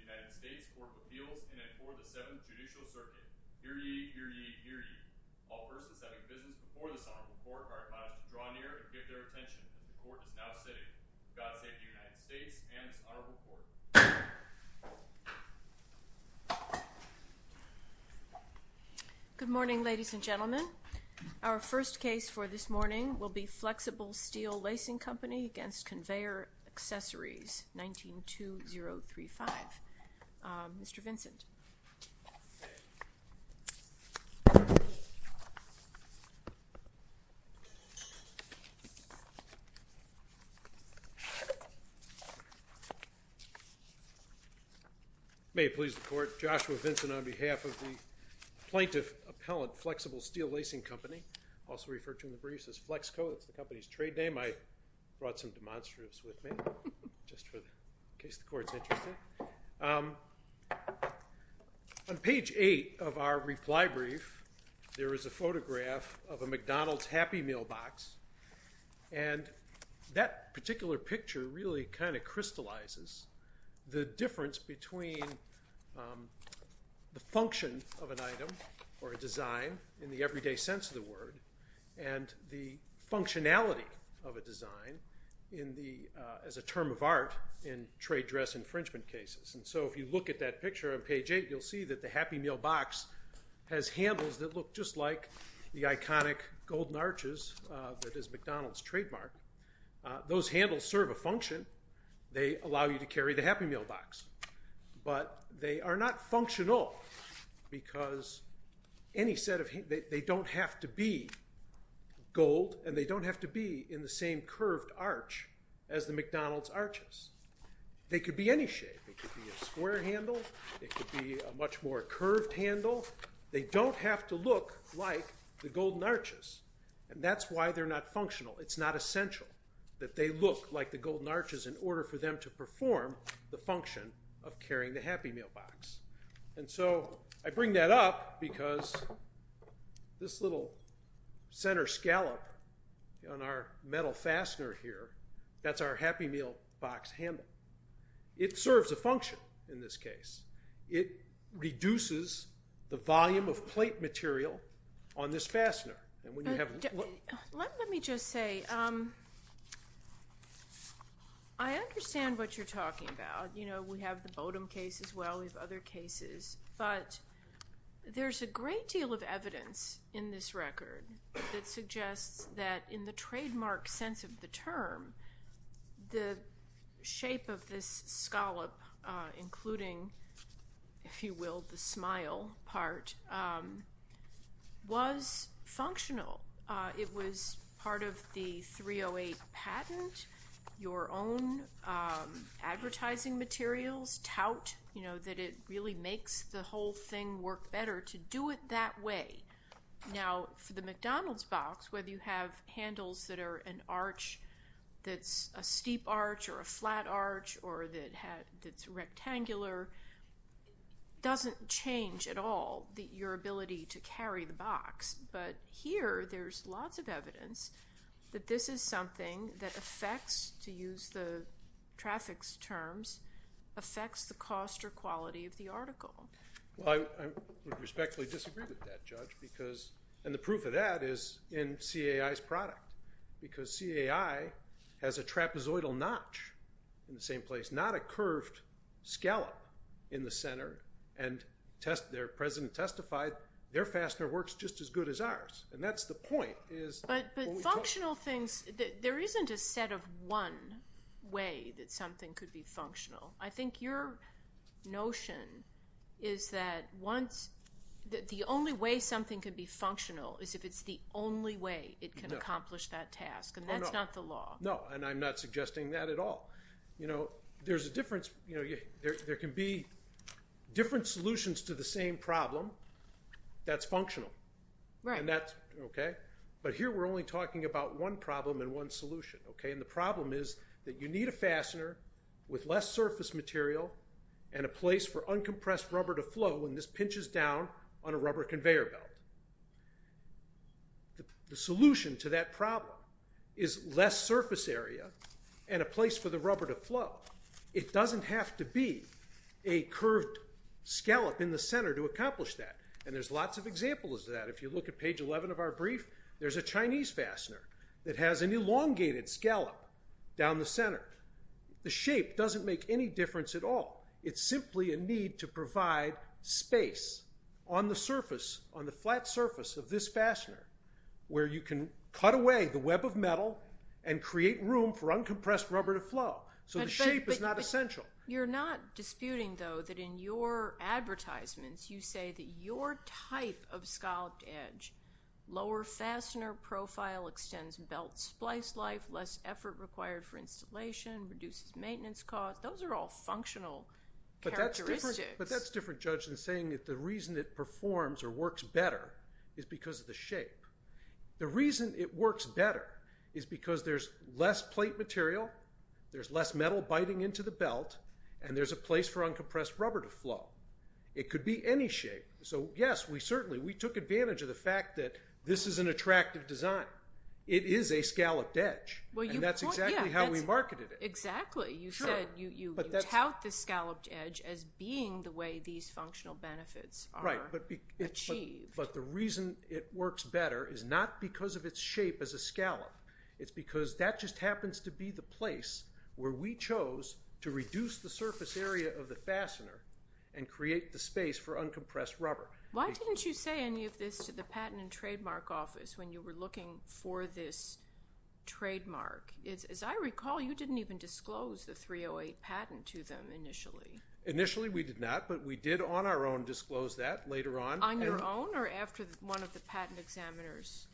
www.conveyoraccessories.com www.conveyoraccessories.com www.conveyoraccessories.com www.conveyoraccessories.com www.conveyoraccessories.com www.conveyoraccessories.com Electoral Door Closes Vice President of the United States Court of Appeals and for the Seventh Judicial Circuit Hear Ye, Hear Ye, Hear Ye Door Closes Good Morning Ladies and Gentlemen Our first case for this morning will be Flexible Steel Lacing Company against Conveyor Accessories 19-2035 Mr. Vincent May it please the court Joshua Vincent on behalf of the Lacing Company also referred to in the briefs as Flexco. It's the company's trade name. I brought some demonstratives with me On page 8 of our reply brief, there is a photograph of a McDonald's Happy Meal box and That particular picture really kind of crystallizes the difference between The function of an item or a design in the everyday sense of the word and the Functionality of a design in the as a term of art in trade dress infringement cases And so if you look at that picture on page 8, you'll see that the Happy Meal box Has handles that look just like the iconic golden arches that is McDonald's trademark Those handles serve a function. They allow you to carry the Happy Meal box But they are not functional because Any set of hey, they don't have to be Gold and they don't have to be in the same curved arch as the McDonald's arches They could be any shape. It could be a square handle. It could be a much more curved handle They don't have to look like the golden arches and that's why they're not functional It's not essential that they look like the golden arches in order for them to perform the function of carrying the Happy Meal box and so I bring that up because this little Center scallop on our metal fastener here. That's our Happy Meal box handle It serves a function in this case. It Reduces the volume of plate material on this fastener Let me just say I Understand what you're talking about, you know, we have the Bowdoin case as well. We've other cases but There's a great deal of evidence in this record that suggests that in the trademark sense of the term the shape of this scallop including If you will the smile part Was Functional it was part of the 308 patent your own Advertising materials tout, you know that it really makes the whole thing work better to do it that way Now for the McDonald's box, whether you have handles that are an arch That's a steep arch or a flat arch or that had its rectangular Doesn't change at all the your ability to carry the box, but here there's lots of evidence That this is something that affects to use the traffic's terms affects the cost or quality of the article well, I Respectfully disagree with that judge because and the proof of that is in CAI's product because CAI Has a trapezoidal notch in the same place not a curved Scallop in the center and test their president testified their fastener works just as good as ours And that's the point is but functional things that there isn't a set of one Way that something could be functional. I think your notion is that once The only way something could be functional is if it's the only way it can accomplish that task and that's not the law No, and I'm not suggesting that at all You know, there's a difference, you know, yeah, there can be different solutions to the same problem That's functional right and that's okay, but here we're only talking about one problem in one solution Okay and the problem is that you need a fastener with less surface material and A place for uncompressed rubber to flow when this pinches down on a rubber conveyor belt The solution to that problem is less surface area and a place for the rubber to flow it doesn't have to be a curved Scallop in the center to accomplish that and there's lots of examples of that If you look at page 11 of our brief, there's a Chinese fastener that has an elongated scallop down the center The shape doesn't make any difference at all It's simply a need to provide space on the surface on the flat surface of this fastener Where you can cut away the web of metal and create room for uncompressed rubber to flow So the shape is not essential. You're not disputing though that in your Advertisements you say that your type of scalloped edge Lower fastener profile extends belt splice life less effort required for installation reduces maintenance cost Those are all functional But that's different judge than saying if the reason it performs or works better is because of the shape The reason it works better is because there's less plate material There's less metal biting into the belt and there's a place for uncompressed rubber to flow. It could be any shape So yes, we certainly we took advantage of the fact that this is an attractive design. It is a scalloped edge That's exactly how we marketed it exactly you said you Held the scalloped edge as being the way these functional benefits, right? But but the reason it works better is not because of its shape as a scallop it's because that just happens to be the place where we chose to reduce the surface area of the fastener and Create the space for uncompressed rubber. Why didn't you say any of this to the patent and trademark office when you were looking for this? Trademark is as I recall you didn't even disclose the 308 patent to them initially initially We did not but we did on our own disclose that later on on your own or after one of the patent examiners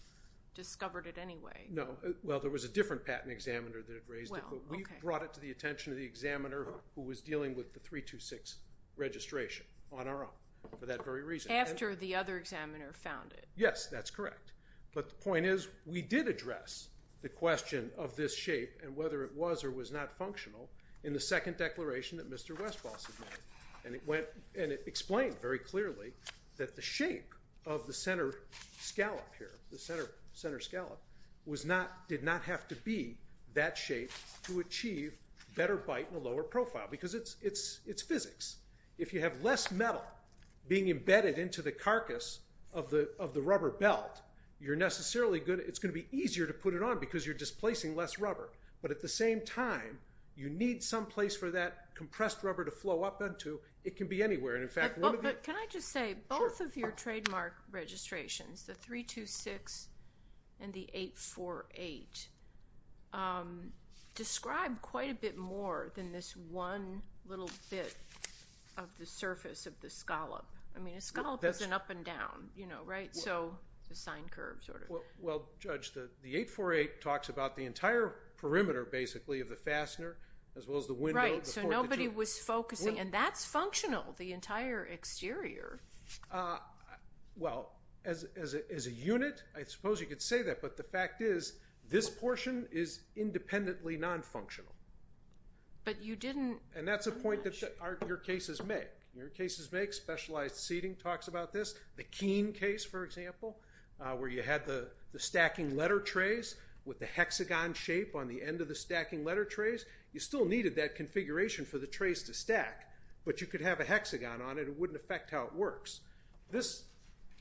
Discovered it anyway. No. Well, there was a different patent examiner that it raised We brought it to the attention of the examiner who was dealing with the three to six Registration on our own for that very reason after the other examiner found it. Yes, that's correct But the point is we did address The question of this shape and whether it was or was not functional in the second declaration that mr Westboss admitted and it went and it explained very clearly that the shape of the center Scallop here the center center scallop was not did not have to be that shape to achieve Better bite in a lower profile because it's it's it's physics If you have less metal being embedded into the carcass of the of the rubber belt You're necessarily good. It's gonna be easier to put it on because you're displacing less rubber But at the same time you need some place for that compressed rubber to flow up into it can be anywhere And in fact, can I just say both of your trademark registrations the three two six and the eight four eight Describe quite a bit more than this one little bit of the surface of the scallop I mean a scallop doesn't up and down, you know, right? So the sine curve sort of well judge the the eight four eight talks about the entire Perimeter basically of the fastener as well as the wind right so nobody was focusing and that's functional the entire exterior Well as a unit, I suppose you could say that but the fact is this portion is independently non-functional But you didn't and that's a point that your cases make your cases make specialized seating talks about this the keen case for example Where you had the the stacking letter trays with the hexagon shape on the end of the stacking letter trays You still needed that configuration for the trace to stack but you could have a hexagon on it It wouldn't affect how it works this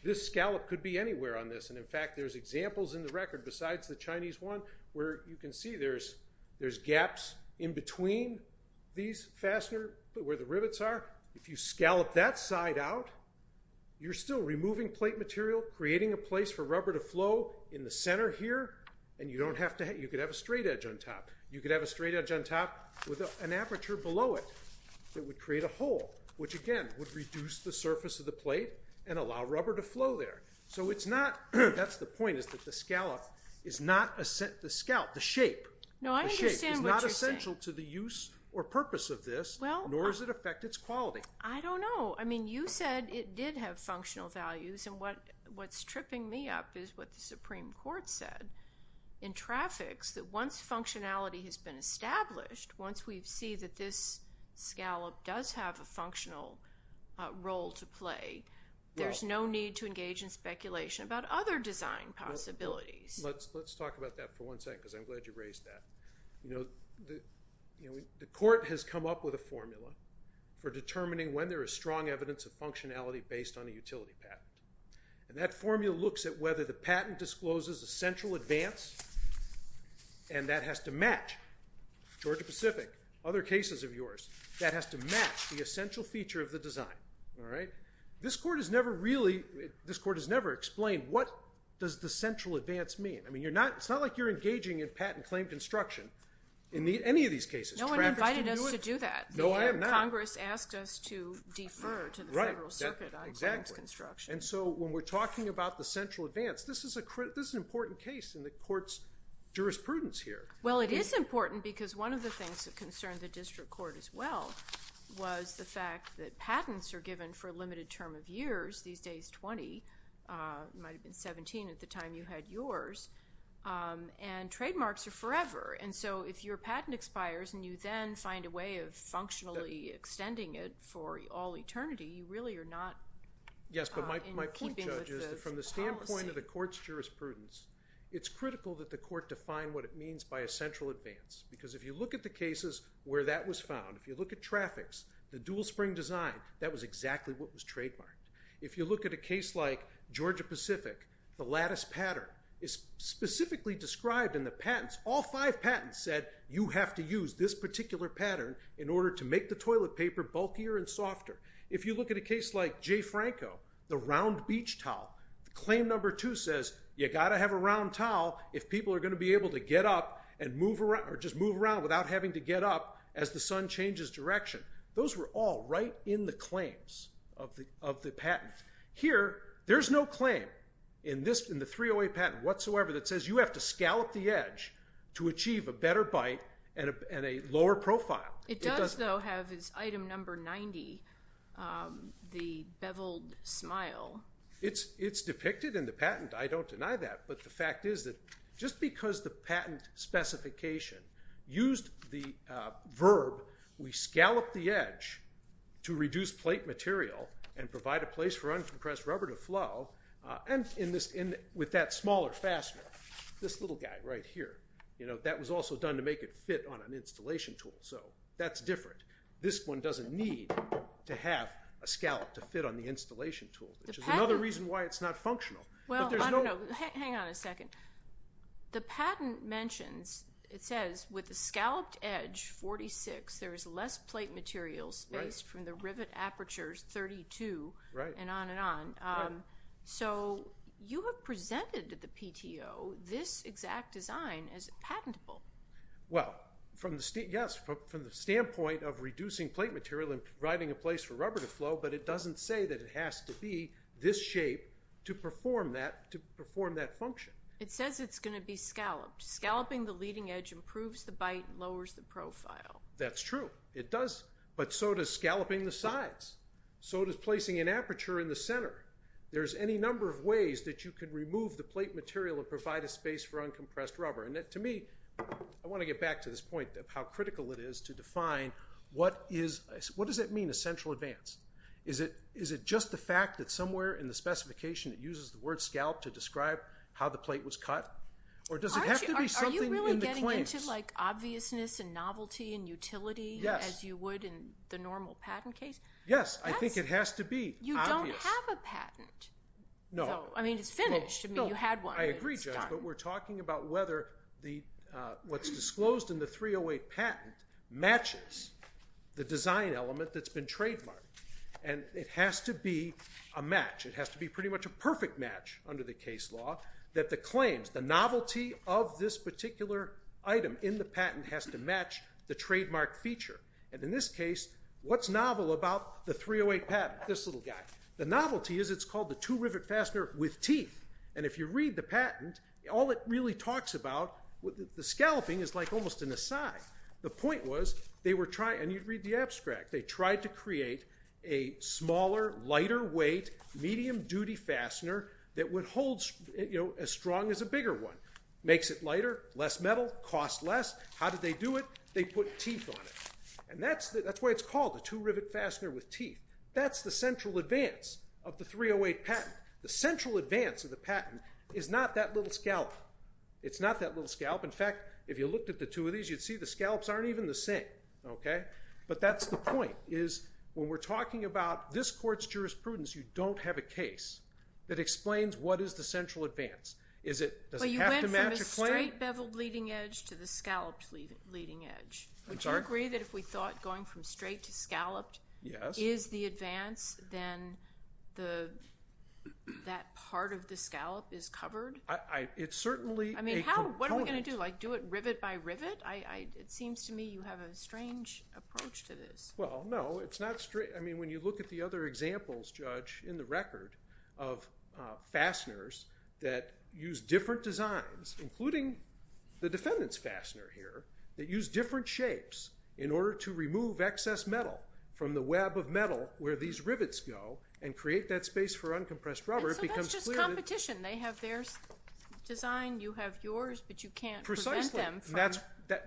This scallop could be anywhere on this and in fact, there's examples in the record besides the Chinese one where you can see there's there's gaps In between these fastener where the rivets are if you scallop that side out You're still removing plate material creating a place for rubber to flow in the center here And you don't have to hit you could have a straight edge on top You could have a straight edge on top with an aperture below it It would create a hole which again would reduce the surface of the plate and allow rubber to flow there So it's not that's the point is that the scallop is not a set the scalp the shape No, I understand not essential to the use or purpose of this. Well, nor does it affect its quality? I don't know I mean you said it did have functional values and what what's tripping me up is what the Supreme Court said in Traffics that once functionality has been established once we've see that this Scallop does have a functional Role to play. There's no need to engage in speculation about other design possibilities Let's let's talk about that for one sec because I'm glad you raised that you know The court has come up with a formula for determining when there is strong evidence of functionality based on a utility patent And that formula looks at whether the patent discloses a central advance and that has to match Georgia Pacific other cases of yours that has to match the essential feature of the design Alright, this court has never really this court has never explained. What does the central advance mean? I mean, you're not it's not like you're engaging in patent claim construction in the any of these cases No one invited us to do that. No, I am not Congress asked us to defer to the Federal Circuit And so when we're talking about the central advance, this is a crit. This is an important case in the courts Jurisprudence here. Well, it is important because one of the things that concern the district court as well Was the fact that patents are given for a limited term of years these days 20 Might have been 17 at the time you had yours And trademarks are forever And so if your patent expires and you then find a way of functionally extending it for all eternity you really are not Yes, but my point judges from the standpoint of the courts jurisprudence It's critical that the court define what it means by a central advance Because if you look at the cases where that was found if you look at traffic's the dual spring design that was exactly what was trademarked if you look at a case like Georgia Pacific the lattice pattern is Specifically described in the patents all five patents said you have to use this particular Pattern in order to make the toilet paper bulkier and softer if you look at a case like Jay Franco the round beach towel Claim number two says you got to have a round towel if people are going to be able to get up and move around Or just move around without having to get up as the Sun changes direction Those were all right in the claims of the of the patent here There's no claim in this in the 308 patent whatsoever that says you have to scallop the edge To achieve a better bite and a lower profile. It does though have his item number 90 the beveled smile It's it's depicted in the patent. I don't deny that but the fact is that just because the patent Specification used the verb we scallop the edge To reduce plate material and provide a place for uncompressed rubber to flow And in this in with that smaller faster this little guy right here You know that was also done to make it fit on an installation tool So that's different this one doesn't need to have a scallop to fit on the installation tool Which is another reason why it's not functional. Well, there's no hang on a second The patent mentions it says with the scalloped edge 46 there is less plate material space from the rivet apertures 32 right and on and on So you have presented to the PTO this exact design as patentable Well from the state yes from the standpoint of reducing plate material and writing a place for rubber to flow But it doesn't say that it has to be this shape to perform that to perform that function It says it's going to be scalloped scalloping the leading edge improves the bite lowers the profile. That's true It does but so does scalloping the sides so does placing an aperture in the center There's any number of ways that you could remove the plate material and provide a space for uncompressed rubber and that to me I want to get back to this point of how critical it is to define What is what does it mean a central advance is it is it just the fact that somewhere in the Specification it uses the word scalp to describe how the plate was cut or does it have to be something in the claims? Like obviousness and novelty and utility as you would in the normal patent case. Yes I think it has to be you don't have a patent No, I mean, it's finished. I mean you had one. I agree, but we're talking about whether the What's disclosed in the 308 patent? matches The design element that's been trademarked and it has to be a match It has to be pretty much a perfect match under the case law that the claims the novelty of this particular Item in the patent has to match the trademark feature and in this case What's novel about the 308 patent this little guy? The novelty is it's called the two rivet fastener with teeth And if you read the patent all it really talks about with the scalloping is like almost an aside the point was they were trying and you'd read the abstract they tried to create a Smaller lighter weight medium duty fastener that would hold You know as strong as a bigger one makes it lighter less metal cost less. How did they do it? They put teeth on it. And that's that's why it's called the two rivet fastener with teeth That's the central advance of the 308 patent. The central advance of the patent is not that little scalp It's not that little scalp In fact, if you looked at the two of these you'd see the scallops aren't even the same Okay, but that's the point is when we're talking about this court's jurisprudence. You don't have a case that explains What is the central advance is it? Beveled leading-edge to the scalloped leading-edge. I'm sorry agree that if we thought going from straight to scalloped Yeah is the advance then the That part of the scallop is covered. I it's certainly I mean What are we gonna do like do it rivet by rivet? I it seems to me you have a strange approach to this well, no, it's not straight. I mean when you look at the other examples judge in the record of Fasteners that use different designs including the defendants fastener here that use different shapes In order to remove excess metal from the web of metal where these rivets go and create that space for uncompressed rubber It becomes just competition. They have theirs Designed you have yours, but you can't That's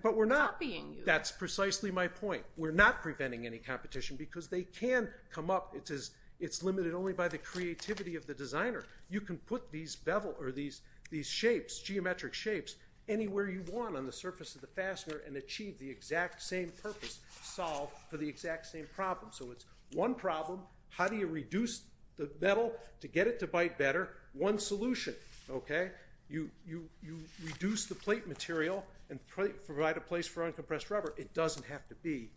but we're not being that's precisely my point We're not preventing any competition because they can come up It says it's limited only by the creativity of the designer You can put these bevel or these these shapes geometric shapes Anywhere you want on the surface of the fastener and achieve the exact same purpose solve for the exact same problem So it's one problem. How do you reduce the metal to get it to bite better one solution? Okay, you you you reduce the plate material and provide a place for uncompressed rubber It doesn't have to be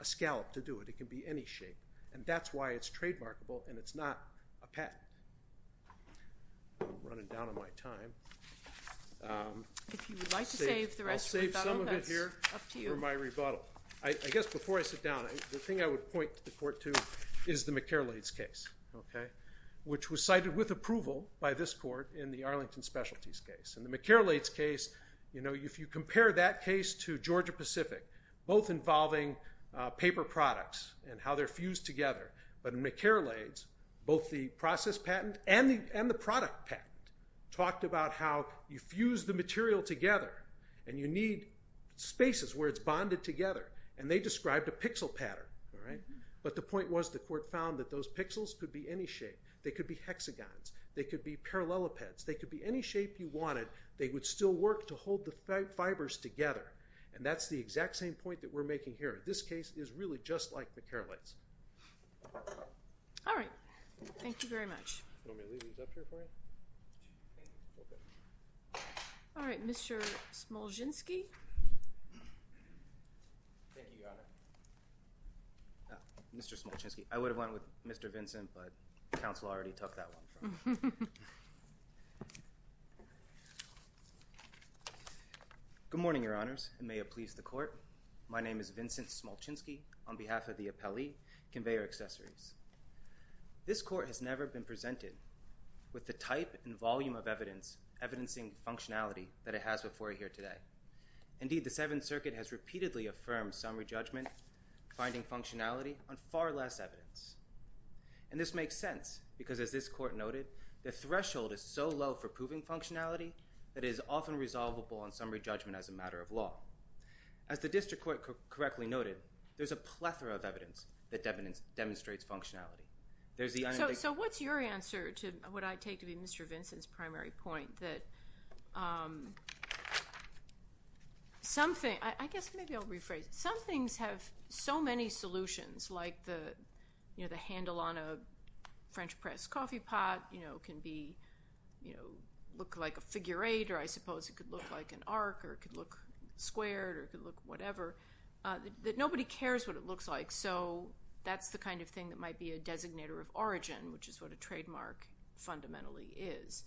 a scallop to do it. It can be any shape and that's why it's trademarkable and it's not a pet I guess before I sit down the thing I would point to the court to is the McCarroll AIDS case Okay, which was cited with approval by this court in the Arlington Specialties case and the McCarroll AIDS case You know if you compare that case to Georgia Pacific both involving Paper products and how they're fused together But in McCarroll AIDS both the process patent and the and the product patent Talked about how you fuse the material together and you need Spaces where it's bonded together and they described a pixel pattern Alright, but the point was the court found that those pixels could be any shape. They could be hexagons. They could be parallelepipeds They could be any shape you wanted They would still work to hold the fibers together and that's the exact same point that we're making here This case is really just like the care lights All right, thank you very much All right, mr. Smolenski Mr. Smolenski, I would have went with mr. Vincent, but the council already took that one Good morning, your honors and may it please the court. My name is Vincent Smolenski on behalf of the appellee conveyor accessories This court has never been presented with the type and volume of evidence Evidencing functionality that it has before here today Indeed the Seventh Circuit has repeatedly affirmed summary judgment finding functionality on far less evidence and This makes sense because as this court noted the threshold is so low for proving functionality That is often resolvable on summary judgment as a matter of law as the district court correctly noted There's a plethora of evidence that evidence demonstrates functionality. There's the so what's your answer to what I take to be? Mr. Vincent's primary point that Something I guess maybe I'll rephrase some things have so many solutions like the you know, the handle on a French press coffee pot, you know can be you know look like a figure eight or I suppose it could look like an arc or It could look squared or could look whatever That nobody cares what it looks like. So that's the kind of thing that might be a designator of origin, which is what a trademark fundamentally is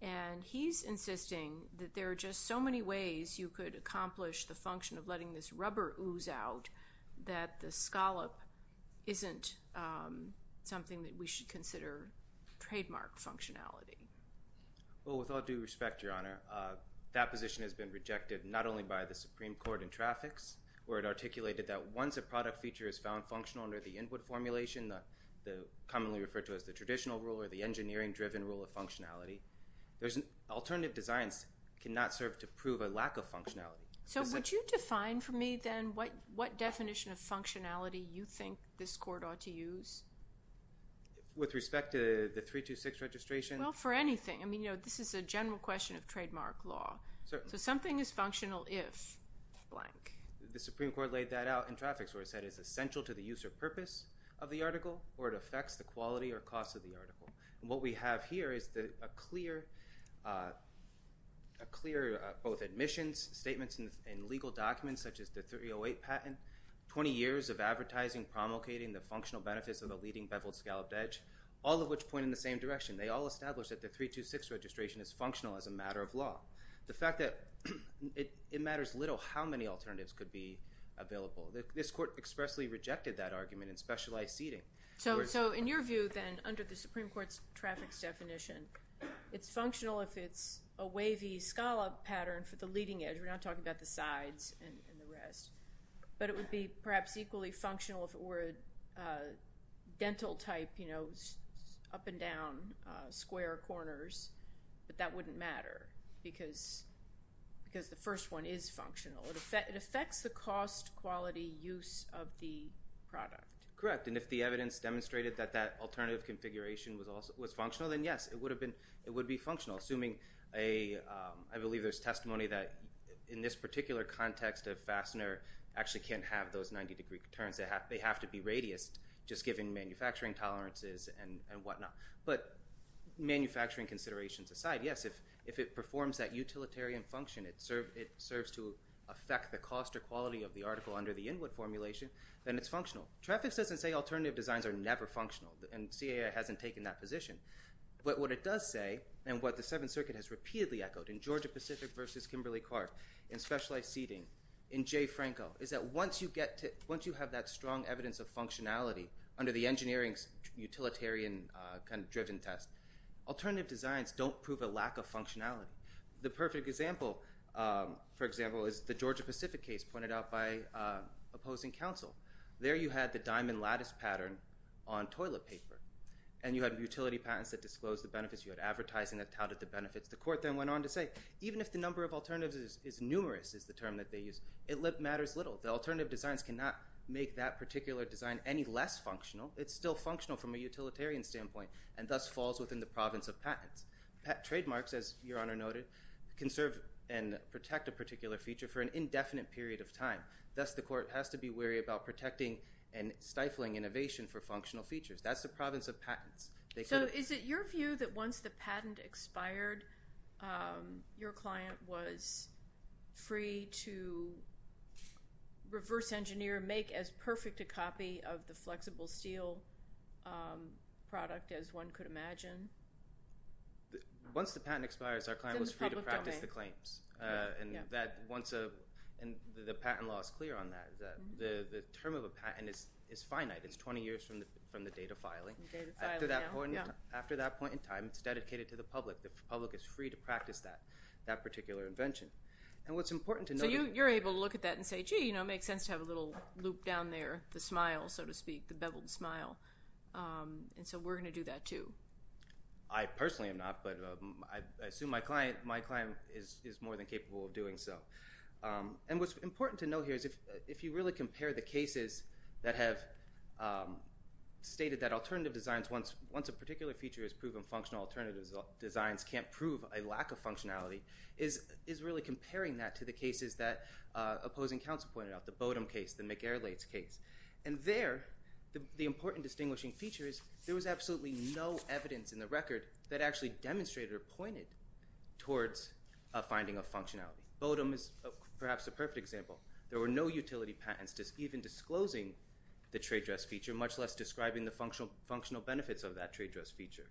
and He's insisting that there are just so many ways you could accomplish the function of letting this rubber ooze out that the scallop isn't Something that we should consider trademark functionality Well with all due respect your honor That position has been rejected not only by the Supreme Court and traffics where it articulated that once a product feature is found functional under the input formulation the Commonly referred to as the traditional rule or the engineering driven rule of functionality There's an alternative designs cannot serve to prove a lack of functionality So would you define for me then what what definition of functionality you think this court ought to use? With respect to the three to six registration well for anything I mean, you know, this is a general question of trademark law. So something is functional if Like the Supreme Court laid that out in traffics where it said is essential to the use or purpose of the article or it affects The quality or cost of the article and what we have here. Is that a clear? Clear both admissions statements and legal documents such as the 308 patent 20 years of advertising promulgating the functional benefits of the leading beveled scalloped edge all of which point in the same direction They all established that the three to six registration is functional as a matter of law the fact that It matters little how many alternatives could be available that this court expressly rejected that argument in specialized seating So so in your view then under the Supreme Court's traffics definition It's functional if it's a wavy scallop pattern for the leading edge. We're not talking about the sides and the rest But it would be perhaps equally functional if it were Dental type, you know up and down square corners, but that wouldn't matter because The first one is functional effect. It affects the cost quality use of the product, correct? and if the evidence demonstrated that that alternative configuration was also was functional then yes, it would have been it would be functional assuming a I believe there's testimony that in this particular context of fastener actually can't have those 90-degree turns They have they have to be radius just given manufacturing tolerances and and whatnot, but Manufacturing considerations aside. Yes, if if it performs that utilitarian function It served it serves to affect the cost or quality of the article under the inward formulation Then it's functional traffic doesn't say alternative designs are never functional and CA hasn't taken that position but what it does say and what the Seventh Circuit has repeatedly echoed in Georgia Pacific versus Kimberly Clark in Specialized seating in Jay Franco is that once you get to once you have that strong evidence of functionality under the engineering's Kind of driven test alternative designs don't prove a lack of functionality the perfect example for example is the Georgia Pacific case pointed out by Opposing counsel there you had the diamond lattice pattern on Toilet paper and you had utility patents that disclosed the benefits you had advertising that touted the benefits the court then went on to say Even if the number of alternatives is numerous is the term that they use it lip matters little the alternative designs cannot make that particular Design any less functional it's still functional from a utilitarian standpoint and thus falls within the province of patents Trademarks as your honor noted can serve and protect a particular feature for an indefinite period of time Thus the court has to be wary about protecting and stifling innovation for functional features. That's the province of patents They so is it your view that once the patent expired? your client was free to Reverse engineer make as perfect a copy of the flexible steel product as one could imagine Once the patent expires our client was free to practice the claims And that once a and the patent law is clear on that the the term of a patent is is finite It's 20 years from the from the date of filing After that point in time it's dedicated to the public the public is free to practice that that particular invention And what's important to know you you're able to look at that and say gee, you know It makes sense to have a little loop down there the smile so to speak the beveled smile And so we're gonna do that, too. I Personally am NOT but I assume my client my client is is more than capable of doing so and what's important to know here is if if you really compare the cases that have Stated that alternative designs once once a particular feature is proven functional alternatives Designs can't prove a lack of functionality is is really comparing that to the cases that Opposing counsel pointed out the Bodom case the McGarrett's case and there the important distinguishing features There was absolutely no evidence in the record that actually demonstrated or pointed Towards a finding of functionality Bodom is perhaps a perfect example There were no utility patents just even disclosing the trade dress feature much less describing the functional functional benefits of that trade dress feature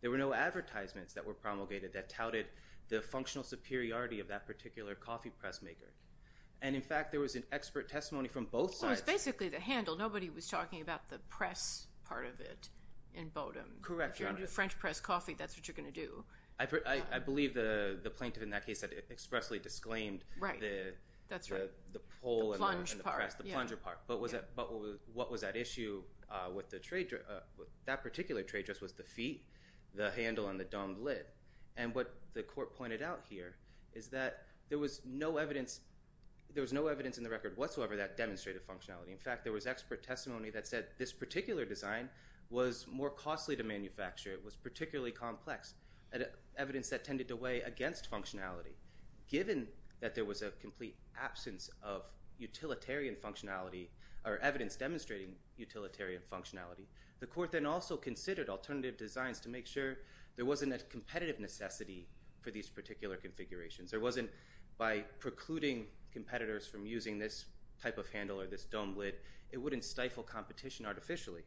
There were no advertisements that were promulgated that touted the functional superiority of that particular coffee press maker And in fact, there was an expert testimony from both sides basically the handle nobody was talking about the press part of it in Bodom Correct. You're a new French press coffee. That's what you're gonna do I believe the the plaintiff in that case that expressly disclaimed, right? That's right the pole and the plunge apart, but was it but what was that issue? With the trade That particular trade dress was the feet The handle and the dumb lid and what the court pointed out here is that there was no evidence There was no evidence in the record whatsoever that demonstrated functionality In fact, there was expert testimony that said this particular design was more costly to manufacture. It was particularly complex evidence that tended to weigh against functionality given that there was a complete absence of Utilitarian functionality or evidence demonstrating utilitarian functionality the court then also considered alternative designs to make sure There wasn't a competitive necessity for these particular configurations There wasn't by precluding competitors from using this type of handle or this dome lid. It wouldn't stifle competition artificially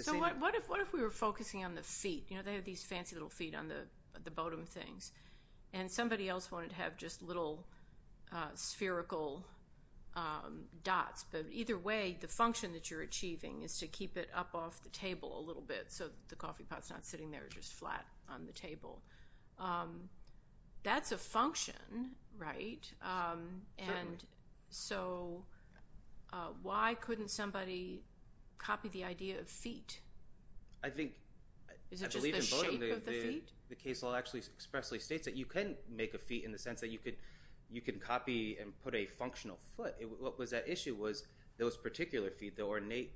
So what if what if we were focusing on the feet? You know, they have these fancy little feet on the the Bodom things and somebody else wanted to have just little spherical Dots, but either way the function that you're achieving is to keep it up off the table a little bit So the coffee pot's not sitting there just flat on the table That's a function right and so Why couldn't somebody copy the idea of feet? I think The case law actually expressly states that you can make a feat in the sense that you could you can copy and put a Functional foot what was that issue was those particular feet the ornate?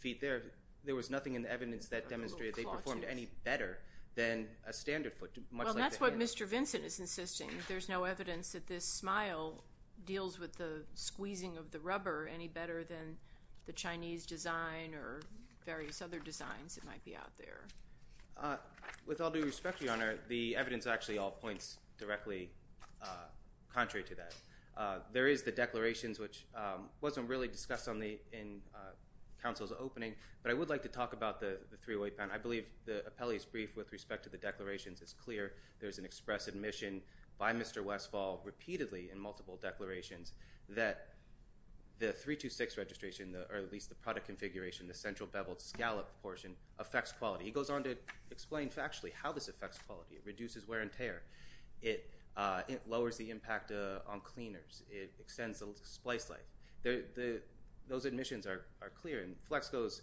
Feet there. There was nothing in the evidence that demonstrated they performed any better than a standard foot Well, that's what mr. Vincent is insisting there's no evidence that this smile deals with the squeezing of the rubber any better than the Chinese design or Various other designs it might be out there With all due respect to your honor the evidence actually all points directly Contrary to that there is the declarations which wasn't really discussed on the in Council's opening, but I would like to talk about the three-way pen I believe the appellees brief with respect to the declarations is clear. There's an express admission by mr. Westfall repeatedly in multiple declarations that The three to six registration or at least the product configuration the central beveled scallop portion affects quality He goes on to explain factually how this affects quality it reduces wear and tear it It lowers the impact on cleaners. It extends the splice like the the those admissions are clear and flex goes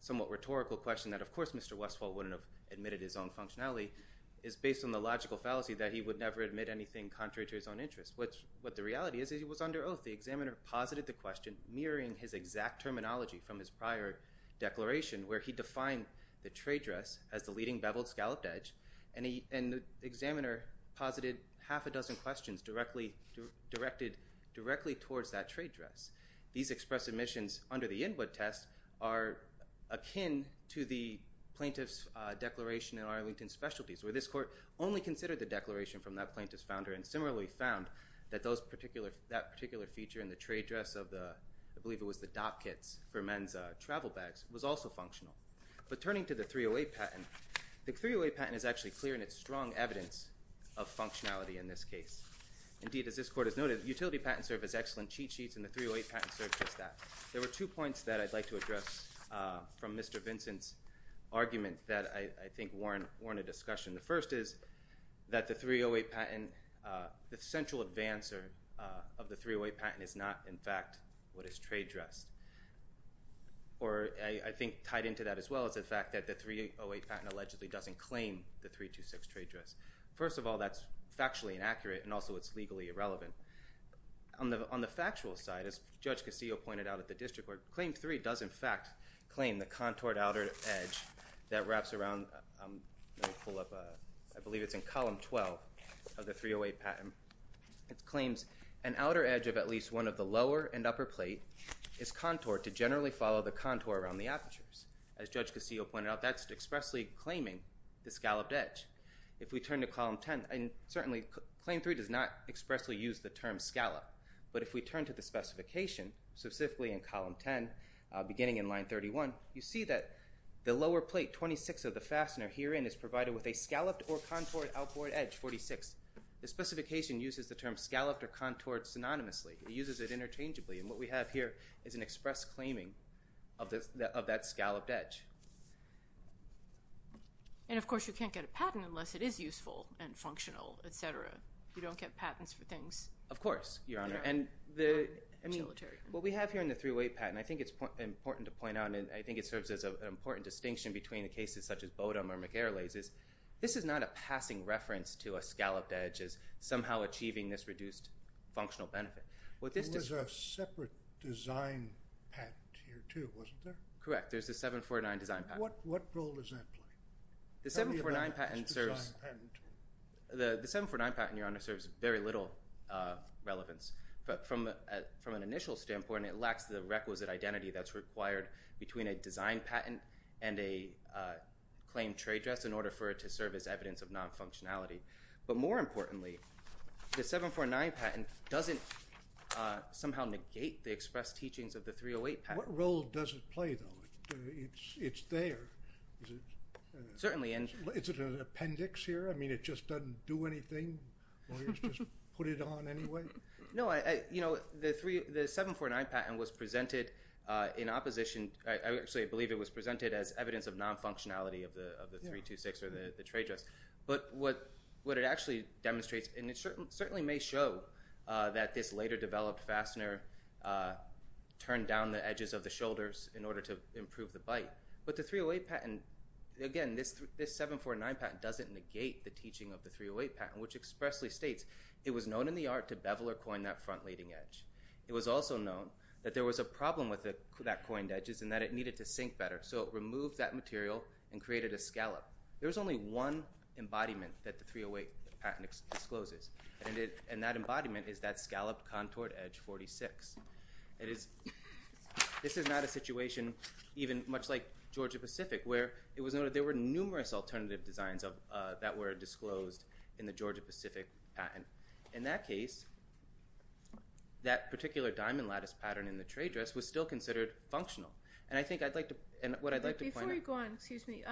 Somewhat rhetorical question that of course, mr Westfall wouldn't have admitted his own functionality is based on the logical fallacy that he would never admit anything contrary to his own interests Which what the reality is he was under oath the examiner posited the question mirroring his exact terminology from his prior Declaration where he defined the trade dress as the leading beveled scalloped edge And the examiner posited half a dozen questions directly Directed directly towards that trade dress. These express admissions under the input test are akin to the plaintiffs Declaration in Arlington specialties where this court only considered the declaration from that plaintiff's founder and similarly found That those particular that particular feature in the trade dress of the I believe it was the dop kits for men's Was also functional but turning to the 308 patent the 308 patent is actually clear in its strong evidence of functionality in this case Indeed as this court is noted utility patent service excellent cheat sheets and the 308 patent search is that there were two points that I'd like to address from mr. Vincent's Argument that I think Warren weren't a discussion. The first is that the 308 patent The central advancer of the 308 patent is not in fact what is trade dress? Or I think tied into that as well as the fact that the 308 patent allegedly doesn't claim the three to six trade dress First of all, that's factually inaccurate and also it's legally irrelevant On the on the factual side as judge Castillo pointed out at the district court claim three does in fact Claim the contoured outer edge that wraps around Pull up. I believe it's in column 12 of the 308 patent It claims an outer edge of at least one of the lower and upper plate is Contoured to generally follow the contour around the apertures as judge Castillo pointed out That's expressly claiming the scalloped edge if we turn to column 10 and certainly claim 3 does not expressly use the term scallop But if we turn to the specification specifically in column 10 Beginning in line 31 you see that the lower plate 26 of the fastener herein is provided with a scalloped or contoured outboard edge 46 the specification uses the term scalloped or contoured synonymously It uses it interchangeably and what we have here is an express claiming of the of that scalloped edge And of course you can't get a patent unless it is useful and functional etc You don't get patents for things. Of course, your honor and the What we have here in the 308 patent I think it's important to point out and I think it serves as a Distinction between the cases such as Bowdoin or McGarry's is this is not a passing reference to a scalloped edge is somehow achieving this reduced Functional benefit. Well, this is a separate design Correct there's a 749 design patent. What what role does that play the 749 patent serves? The the 749 patent your honor serves very little Relevance but from from an initial standpoint, it lacks the requisite identity that's required between a design patent and a Claim trade dress in order for it to serve as evidence of non-functionality, but more importantly the 749 patent doesn't Somehow negate the express teachings of the 308 patent role doesn't play though. It's it's there Certainly and it's an appendix here. I mean it just doesn't do anything Put it on anyway, no, I you know, the three the 749 patent was presented in opposition I actually believe it was presented as evidence of non-functionality of the of the three two six or the trade dress But what what it actually demonstrates and it certainly may show that this later developed fastener Turned down the edges of the shoulders in order to improve the bite But the 308 patent Again, this this 749 patent doesn't negate the teaching of the 308 patent which expressly states It was known in the art to bevel or coin that front leading edge It was also known that there was a problem with it that coined edges and that it needed to sink better So it removed that material and created a scallop There was only one embodiment that the 308 patent discloses and it and that embodiment is that scallop contoured edge 46 it is This is not a situation even much like Georgia Pacific where it was noted There were numerous alternative designs of that were disclosed in the Georgia Pacific in that case That particular diamond lattice pattern in the trade dress was still considered functional and I think I'd like to and what I'd like to Go on. Excuse me.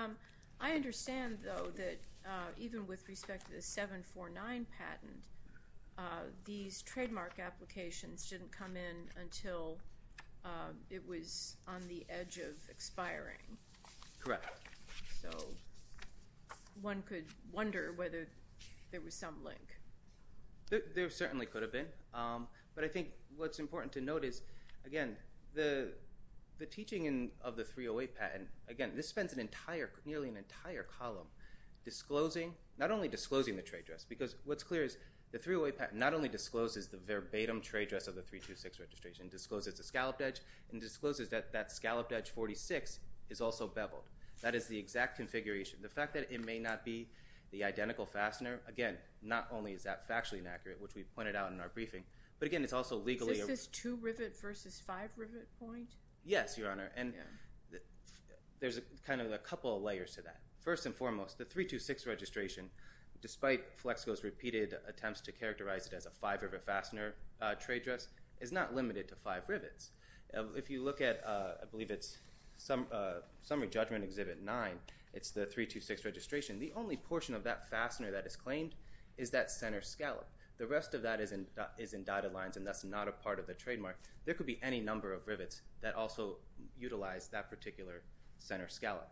I Understand though that even with respect to the 749 patent These trademark applications didn't come in until It was on the edge of expiring correct, so One could wonder whether there was some link there certainly could have been but I think what's important to notice again, the The teaching in of the 308 patent again, this spends an entire nearly an entire column Disclosing not only disclosing the trade dress because what's clear is the 308 patent not only discloses the verbatim trade dress of the three two Six registration discloses the scalloped edge and discloses that that scalloped edge 46 is also beveled That is the exact configuration the fact that it may not be the identical fastener again Not only is that factually inaccurate which we've pointed out in our briefing, but again, it's also legally this two rivet versus five rivet point yes, your honor and There's a kind of a couple of layers to that first and foremost the three to six registration Despite flex goes repeated attempts to characterize it as a fiber of a fastener trade dress is not limited to five rivets If you look at I believe it's some Summary judgment exhibit nine. It's the three to six registration The only portion of that fastener that is claimed is that center scallop the rest of that isn't is in dotted lines And that's not a part of the trademark. There could be any number of rivets that also Utilize that particular center scallop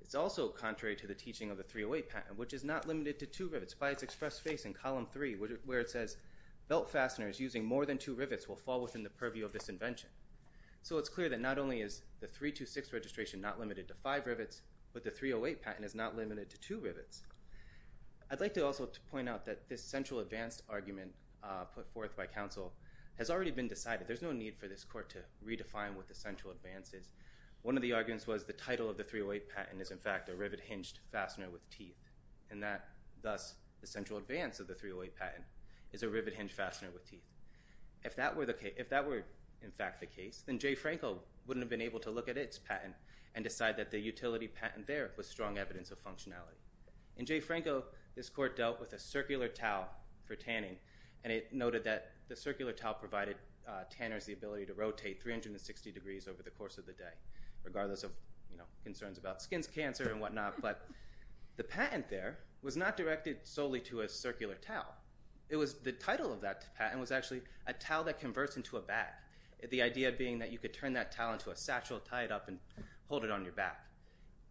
It's also contrary to the teaching of the 308 patent Which is not limited to two rivets by its express face in column three where it says Belt fasteners using more than two rivets will fall within the purview of this invention So it's clear that not only is the three to six registration not limited to five rivets But the 308 patent is not limited to two rivets I'd like to also point out that this central advanced argument put forth by counsel has already been decided There's no need for this court to redefine what the central advances one of the arguments was the title of the 308 patent is in fact a rivet hinged fastener with teeth and that Thus the central advance of the 308 patent is a rivet hinge fastener with teeth If that were the case if that were in fact the case then Jay Franco Wouldn't have been able to look at its patent and decide that the utility patent there was strong evidence of functionality In Jay Franco this court dealt with a circular towel For tanning and it noted that the circular towel provided tanners the ability to rotate 360 degrees over the course of the day regardless of you know concerns about skins cancer and whatnot But the patent there was not directed solely to a circular towel It was the title of that patent was actually a towel that converts into a bat The idea being that you could turn that talent to a satchel tie it up and hold it on your back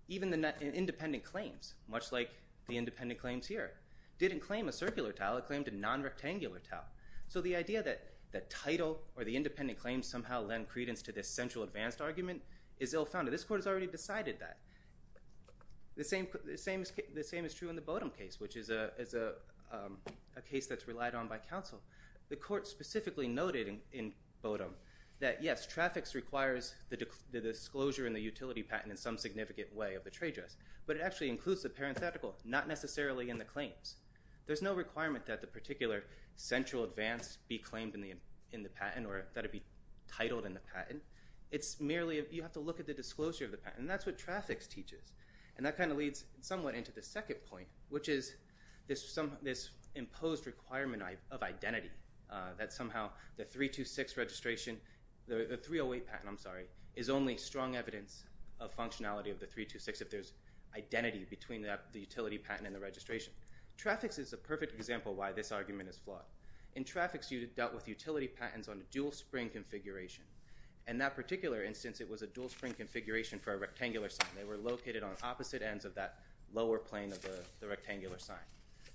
Even the net and independent claims much like the independent claims here didn't claim a circular towel It claimed a non-rectangular towel So the idea that the title or the independent claims somehow lend credence to this central advanced argument is ill founded This court has already decided that the same the same as the same is true in the Bodom case, which is a Case that's relied on by counsel the court specifically noted in in Bodom that yes Traffic's requires the disclosure in the utility patent in some significant way of the trade dress But it actually includes the parenthetical not necessarily in the claims There's no requirement that the particular central advanced be claimed in the in the patent or that it be titled in the patent It's merely if you have to look at the disclosure of the patent That's what traffic's teaches and that kind of leads somewhat into the second point Which is this some this imposed requirement of identity that somehow the three to six registration The 308 patent. I'm sorry is only strong evidence of functionality of the three to six if there's Identity between that the utility patent and the registration Traffic's is a perfect example why this argument is flawed in traffic's you dealt with utility patents on a dual spring Configuration and that particular instance it was a dual spring configuration for a rectangular sign They were located on opposite ends of that lower plane of the rectangular sign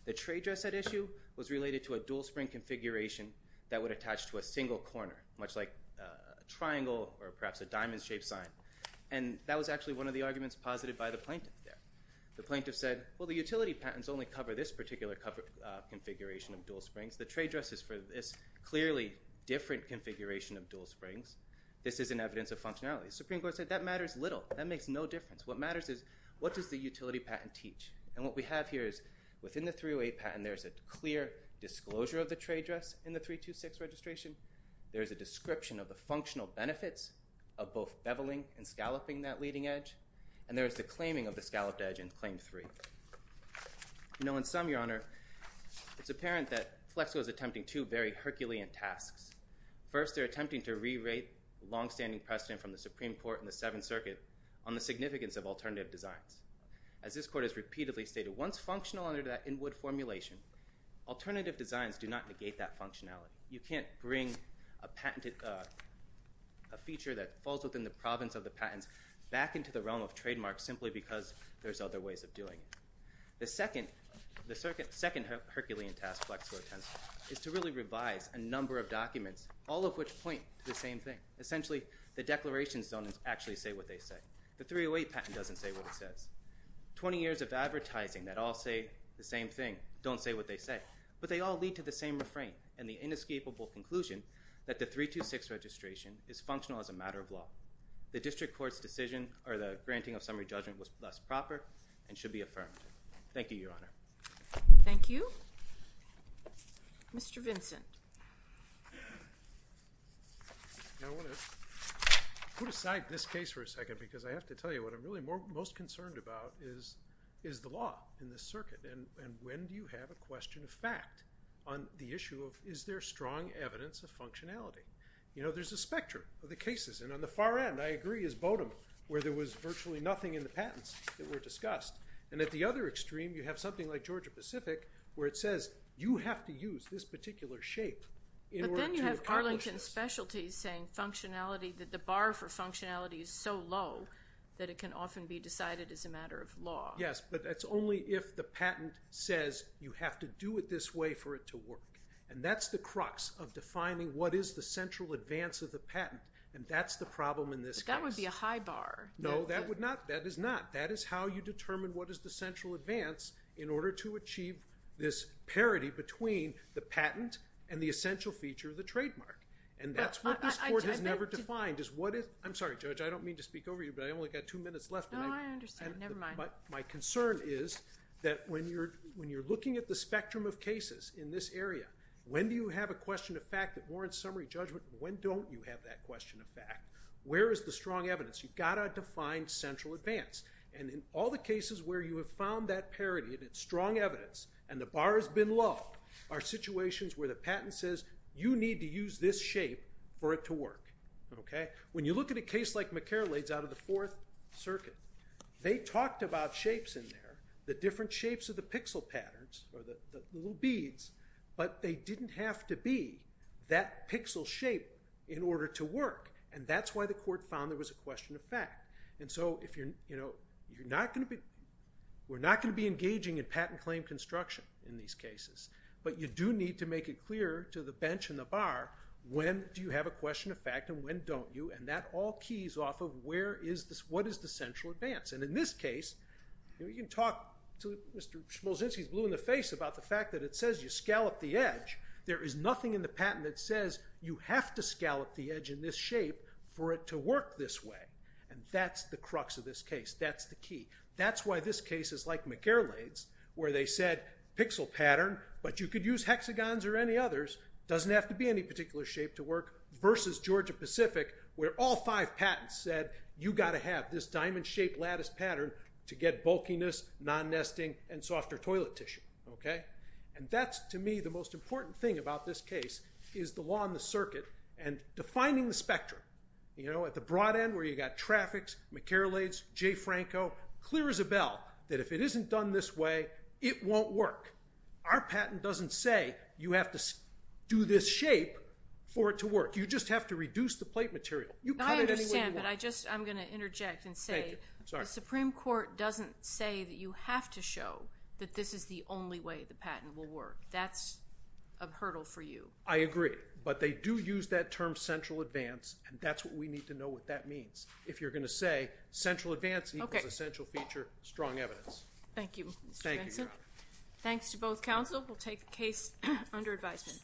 The trade dress that issue was related to a dual spring configuration that would attach to a single corner much like Triangle or perhaps a diamond-shaped sign and that was actually one of the arguments posited by the plaintiff there The plaintiff said well the utility patents only cover this particular cover Configuration of dual springs the trade dress is for this clearly different configuration of dual springs This is an evidence of functionality Supreme Court said that matters little that makes no difference What matters is what does the utility patent teach and what we have here is within the 308 patent? There's a clear disclosure of the trade dress in the three to six registration There is a description of the functional benefits of both beveling and scalloping that leading edge And there is the claiming of the scalloped edge in claim three You know in some your honor It's apparent that flex was attempting to bury Herculean tasks first They're attempting to rewrite Long-standing precedent from the Supreme Court in the Seventh Circuit on the significance of alternative designs as this court has repeatedly stated once functional under that in wood formulation Alternative designs do not negate that functionality. You can't bring a patented a Feature that falls within the province of the patents back into the realm of trademarks simply because there's other ways of doing The second the circuit second Herculean task flexible attempts is to really revise a number of documents all of which point to the same Thing essentially the declarations don't actually say what they say the 308 patent doesn't say what it says 20 years of advertising that all say the same thing don't say what they say But they all lead to the same refrain and the inescapable conclusion that the three to six registration is functional as a matter of law The district courts decision or the granting of summary judgment was less proper and should be affirmed. Thank you your honor Thank you Mr. Vincent Put aside this case for a second because I have to tell you what I'm really more most concerned about is is the law in The circuit and when do you have a question of fact on the issue of is there strong evidence of functionality? You know, there's a spectrum of the cases and on the far end I agree is Bowdoin where there was virtually nothing in the patents that were discussed and at the other extreme you have something like, Georgia Pacific where it says you have to use this particular shape Arlington specialties saying functionality that the bar for functionality is so low that it can often be decided as a matter of law Yes But that's only if the patent says you have to do it this way for it to work and that's the crux of Defining what is the central advance of the patent and that's the problem in this guy would be a high bar No, that would not that is not that is how you determine What is the central advance in order to achieve this? Parity between the patent and the essential feature of the trademark and that's what I've never defined is what if I'm sorry judge I don't mean to speak over you, but I only got two minutes left But my concern is that when you're when you're looking at the spectrum of cases in this area When do you have a question of fact that warrants summary judgment? When don't you have that question of fact? Where is the strong evidence? You've got a defined central advance and in all the cases where you have found that parity and it's strong evidence And the bar has been low our situations where the patent says you need to use this shape for it to work Okay, when you look at a case like McCarroll aids out of the fourth circuit They talked about shapes in there the different shapes of the pixel patterns or the little beads But they didn't have to be that pixel shape in order to work And that's why the court found there was a question of fact And so if you're you know, you're not going to be we're not going to be engaging in patent claim construction in these cases But you do need to make it clear to the bench in the bar When do you have a question of fact and when don't you and that all keys off of where is this? What is the central advance and in this case? You can talk to mr Smolzinski's blue in the face about the fact that it says you scallop the edge There is nothing in the patent that says you have to scallop the edge in this shape for it to work this way And that's the crux of this case. That's the key That's why this case is like McGarrett's where they said pixel pattern But you could use hexagons or any others doesn't have to be any particular shape to work Versus Georgia Pacific where all five patents said you got to have this diamond-shaped lattice pattern to get bulkiness non-nesting and softer toilet tissue okay, and that's to me the most important thing about this case is the law in the circuit and Defining the spectrum, you know at the broad end where you got traffics McCarroll aids Jayfranco clear as a bell that if it isn't done this way, it won't work Our patent doesn't say you have to do this shape for it to work You just have to reduce the plate material you cut it I just I'm gonna interject and say Supreme Court doesn't say that you have to show that this is the only way the patent will work. That's a Hurdle for you. I agree, but they do use that term central advance And that's what we need to know what that means if you're gonna say central advance. Okay essential feature strong evidence. Thank you Thank you, thanks to both counsel we'll take the case under advisement